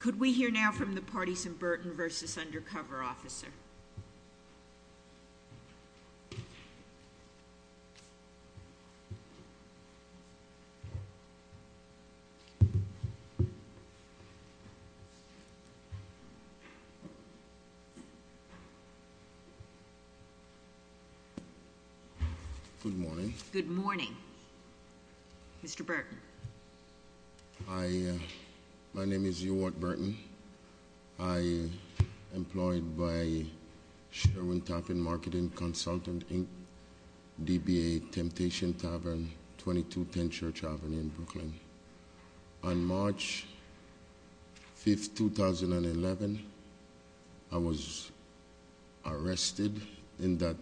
Could we hear now from the parties in Burton v. Undercover Officer? Good morning. Good morning. Mr. Burton. Hi. My name is Ewart Burton. I am employed by Sherwin Taffin Marketing Consultant, Inc., DBA Temptation Tavern, 2210 Church Avenue, Brooklyn. On March 5, 2011, I was arrested in that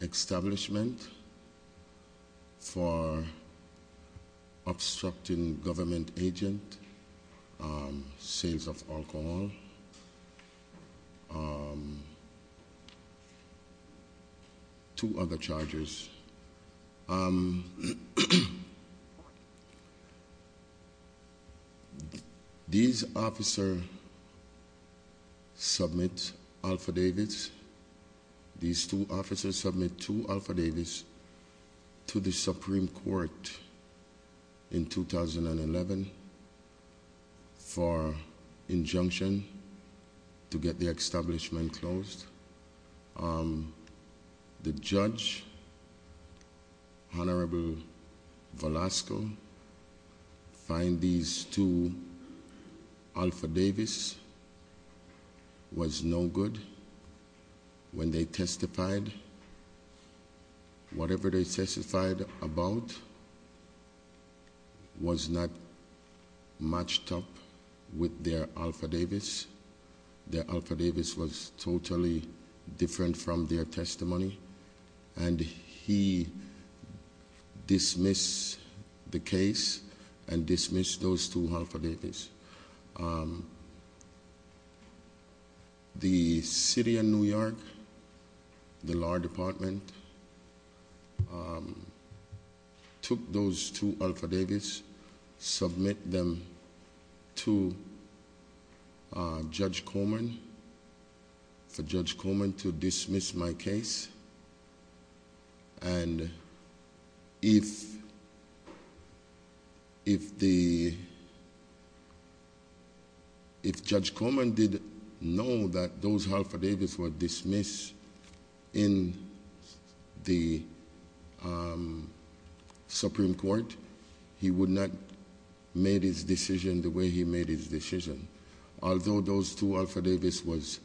establishment for obstructing government agent, sales of alcohol, two other charges. These officers submit alphadavits. These two officers submit two alphadavits to the Supreme Court in 2011 for injunction to get the establishment closed. The judge, Honorable Velasco, find these two alphadavits was no good when they testified. Whatever they testified about was not matched up with their alphadavits. Their alphadavits was totally different from their testimony. And he dismissed the case and dismissed those two alphadavits. The City of New York, the Law Department, took those two alphadavits, submit them to Judge Coleman, for Judge Coleman to dismiss my case. And if Judge Coleman did know that those alphadavits were dismissed in the Supreme Court, he would not have made his decision the way he made his decision. Although those two alphadavits was,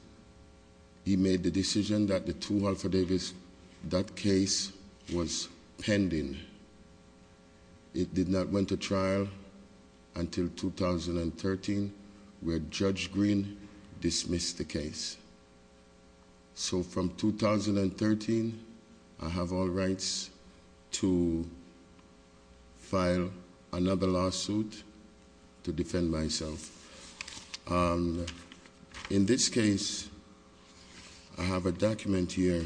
he made the decision that the two alphadavits, that case was pending. It did not went to trial until 2013, where Judge Green dismissed the case. So from 2013, I have all rights to file another lawsuit to defend myself. In this case, I have a document here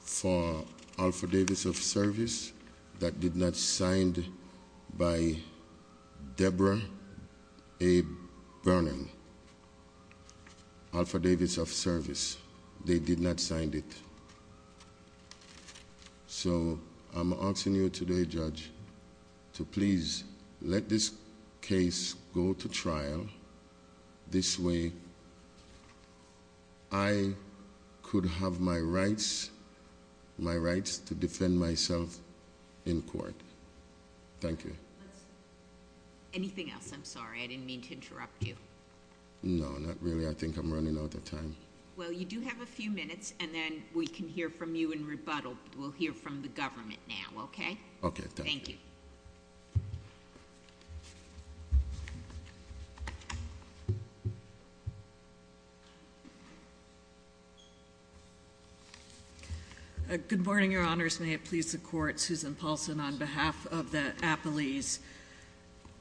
for alphadavits of service that did not signed by Deborah A. Alphadavits of service, they did not signed it. So I'm asking you today, Judge, to please let this case go to trial. This way, I could have my rights to defend myself in court. Thank you. Anything else? I'm sorry, I didn't mean to interrupt you. No, not really. I think I'm running out of time. Well, you do have a few minutes, and then we can hear from you in rebuttal. We'll hear from the government now, okay? Okay, thank you. Thank you. Good morning, Your Honors. May it please the Court, Susan Paulson on behalf of the Apolis.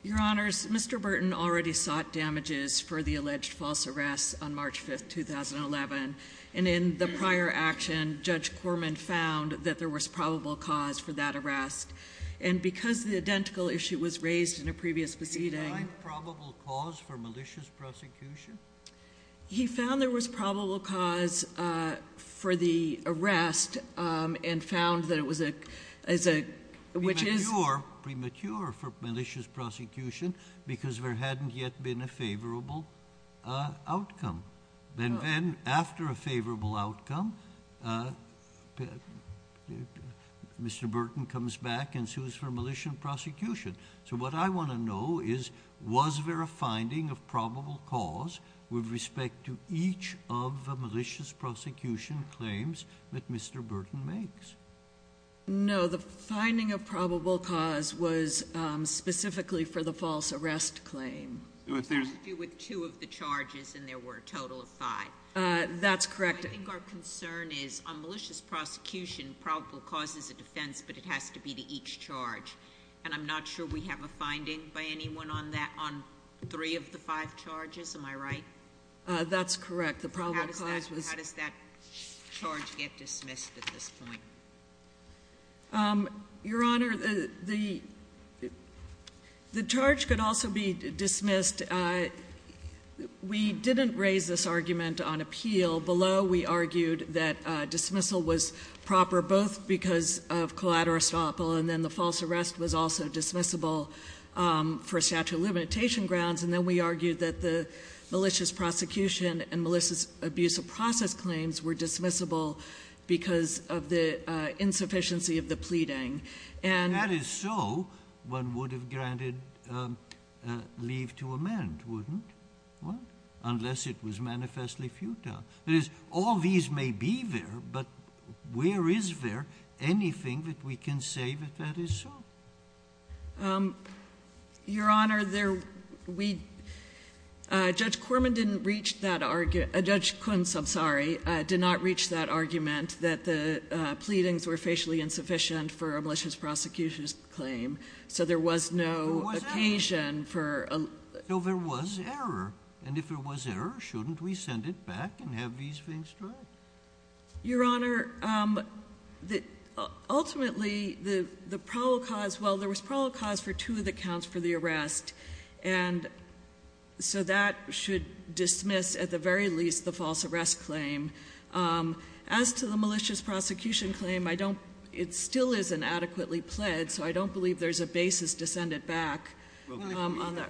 Your Honors, Mr. Burton already sought damages for the alleged false arrests on March 5th, 2011. And in the prior action, Judge Corman found that there was probable cause for that arrest. And because the identical issue was raised in a previous proceeding- Was there probable cause for malicious prosecution? He found there was probable cause for the arrest and found that it was a- Premature for malicious prosecution because there hadn't yet been a favorable outcome. Then after a favorable outcome, Mr. Burton comes back and sues for malicious prosecution. So what I want to know is, was there a finding of probable cause with respect to each of the malicious prosecution claims that Mr. Burton makes? No, the finding of probable cause was specifically for the false arrest claim. With two of the charges, and there were a total of five. That's correct. I think our concern is on malicious prosecution, probable cause is a defense, but it has to be to each charge. And I'm not sure we have a finding by anyone on that, on three of the five charges. Am I right? That's correct. The probable cause was- How does that charge get dismissed at this point? Your Honor, the charge could also be dismissed. We didn't raise this argument on appeal. Below, we argued that dismissal was proper both because of collateral estoppel and then the false arrest was also dismissible for statute of limitation grounds. And then we argued that the malicious prosecution and malicious abuse of process claims were dismissible because of the insufficiency of the pleading. If that is so, one would have granted leave to amend, wouldn't one? Unless it was manifestly futile. That is, all these may be there, but where is there anything that we can say that that is so? Your Honor, Judge Kuntz did not reach that argument that the pleadings were facially insufficient for a malicious prosecution claim. So there was no occasion for- No, there was error. And if there was error, shouldn't we send it back and have these things tried? Your Honor, ultimately, the probable cause- Well, there was probable cause for two of the counts for the arrest. And so that should dismiss, at the very least, the false arrest claim. As to the malicious prosecution claim, I don't- It still is inadequately pled, so I don't believe there's a basis to send it back.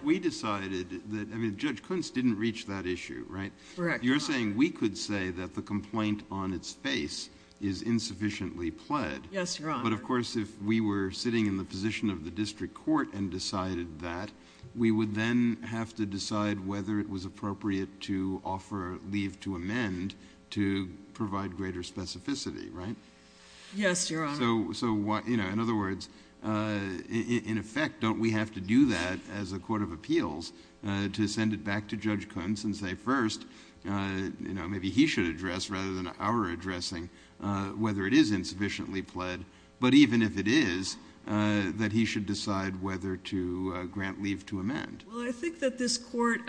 We decided that- I mean, Judge Kuntz didn't reach that issue, right? Correct. You're saying we could say that the complaint on its face is insufficiently pled. Yes, Your Honor. But, of course, if we were sitting in the position of the district court and decided that, we would then have to decide whether it was appropriate to offer leave to amend to provide greater specificity, right? Yes, Your Honor. So, in other words, in effect, don't we have to do that as a court of appeals to send it back to Judge Kuntz and say, first, maybe he should address, rather than our addressing, whether it is insufficiently pled, but even if it is, that he should decide whether to grant leave to amend. Well, I think that this court-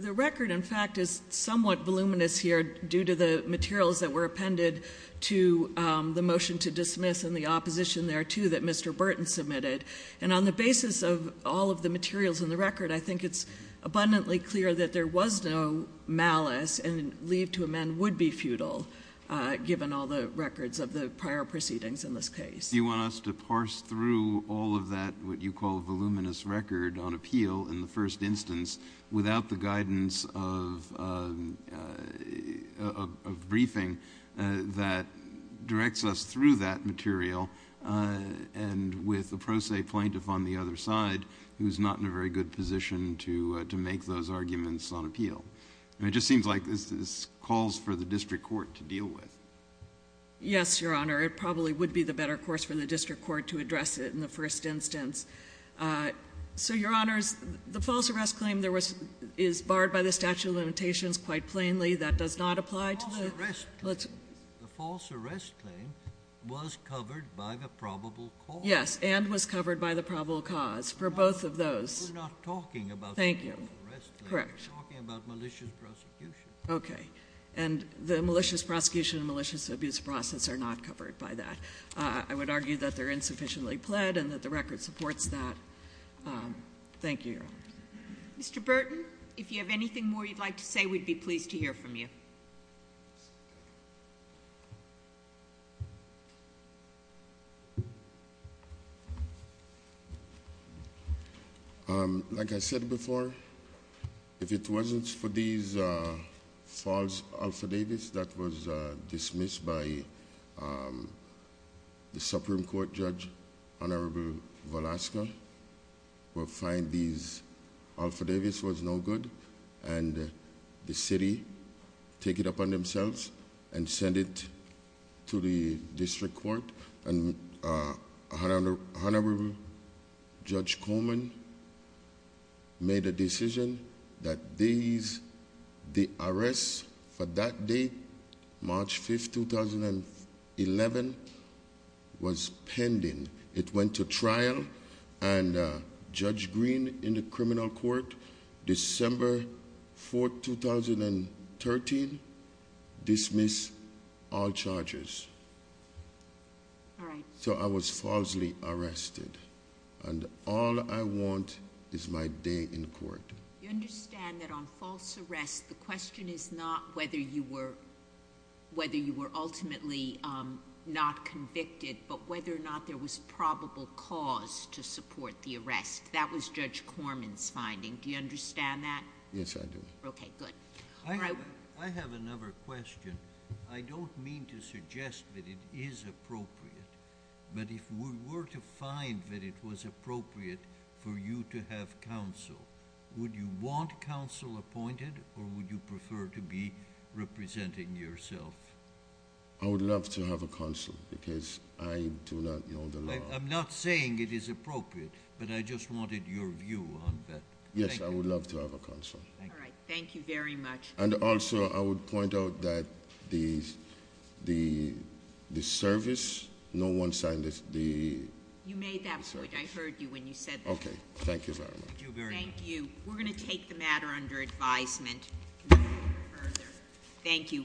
the record, in fact, is somewhat voluminous here, due to the materials that were appended to the motion to dismiss and the opposition there, too, that Mr. Burton submitted. And on the basis of all of the materials in the record, I think it's abundantly clear that there was no malice and leave to amend would be futile, given all the records of the prior proceedings in this case. Do you want us to parse through all of that, what you call voluminous record on appeal, in the first instance, without the guidance of a briefing that directs us through that material, and with a pro se plaintiff on the other side who is not in a very good position to make those arguments on appeal? It just seems like this calls for the district court to deal with. Yes, Your Honor. It probably would be the better course for the district court to address it in the first instance. So, Your Honors, the false arrest claim is barred by the statute of limitations quite plainly. That does not apply to the- False arrest claim. The false arrest claim was covered by the probable cause. Yes, and was covered by the probable cause for both of those. We're not talking about the false arrest claim. Thank you. We're talking about malicious prosecution. Okay. And the malicious prosecution and malicious abuse process are not covered by that. I would argue that they're insufficiently pled and that the record supports that. Thank you, Your Honor. Mr. Burton, if you have anything more you'd like to say, we'd be pleased to hear from you. Thank you. Like I said before, if it wasn't for these false affidavits that was dismissed by the Supreme Court judge, Honorable Velasco will find these affidavits was no good and the city take it upon themselves and send it to the district court. And Honorable Judge Coleman made a decision that these, the arrests for that date, March 5th, 2011, was pending. It went to trial and Judge Green in the criminal court, December 4th, 2013, dismissed all charges. All right. So I was falsely arrested. And all I want is my day in court. You understand that on false arrest, the question is not whether you were ultimately not convicted, but whether or not there was probable cause to support the arrest. That was Judge Coleman's finding. Do you understand that? Yes, I do. Okay, good. I have another question. I don't mean to suggest that it is appropriate, but if we were to find that it was appropriate for you to have counsel, would you want counsel appointed or would you prefer to be representing yourself? I would love to have a counsel because I do not know the law. I'm not saying it is appropriate, but I just wanted your view on that. Yes, I would love to have a counsel. All right, thank you very much. And also, I would point out that the service, no one signed the- You made that point, I heard you when you said that. Okay, thank you very much. Thank you very much. Thank you. We're going to take the matter under advisement further. Thank you.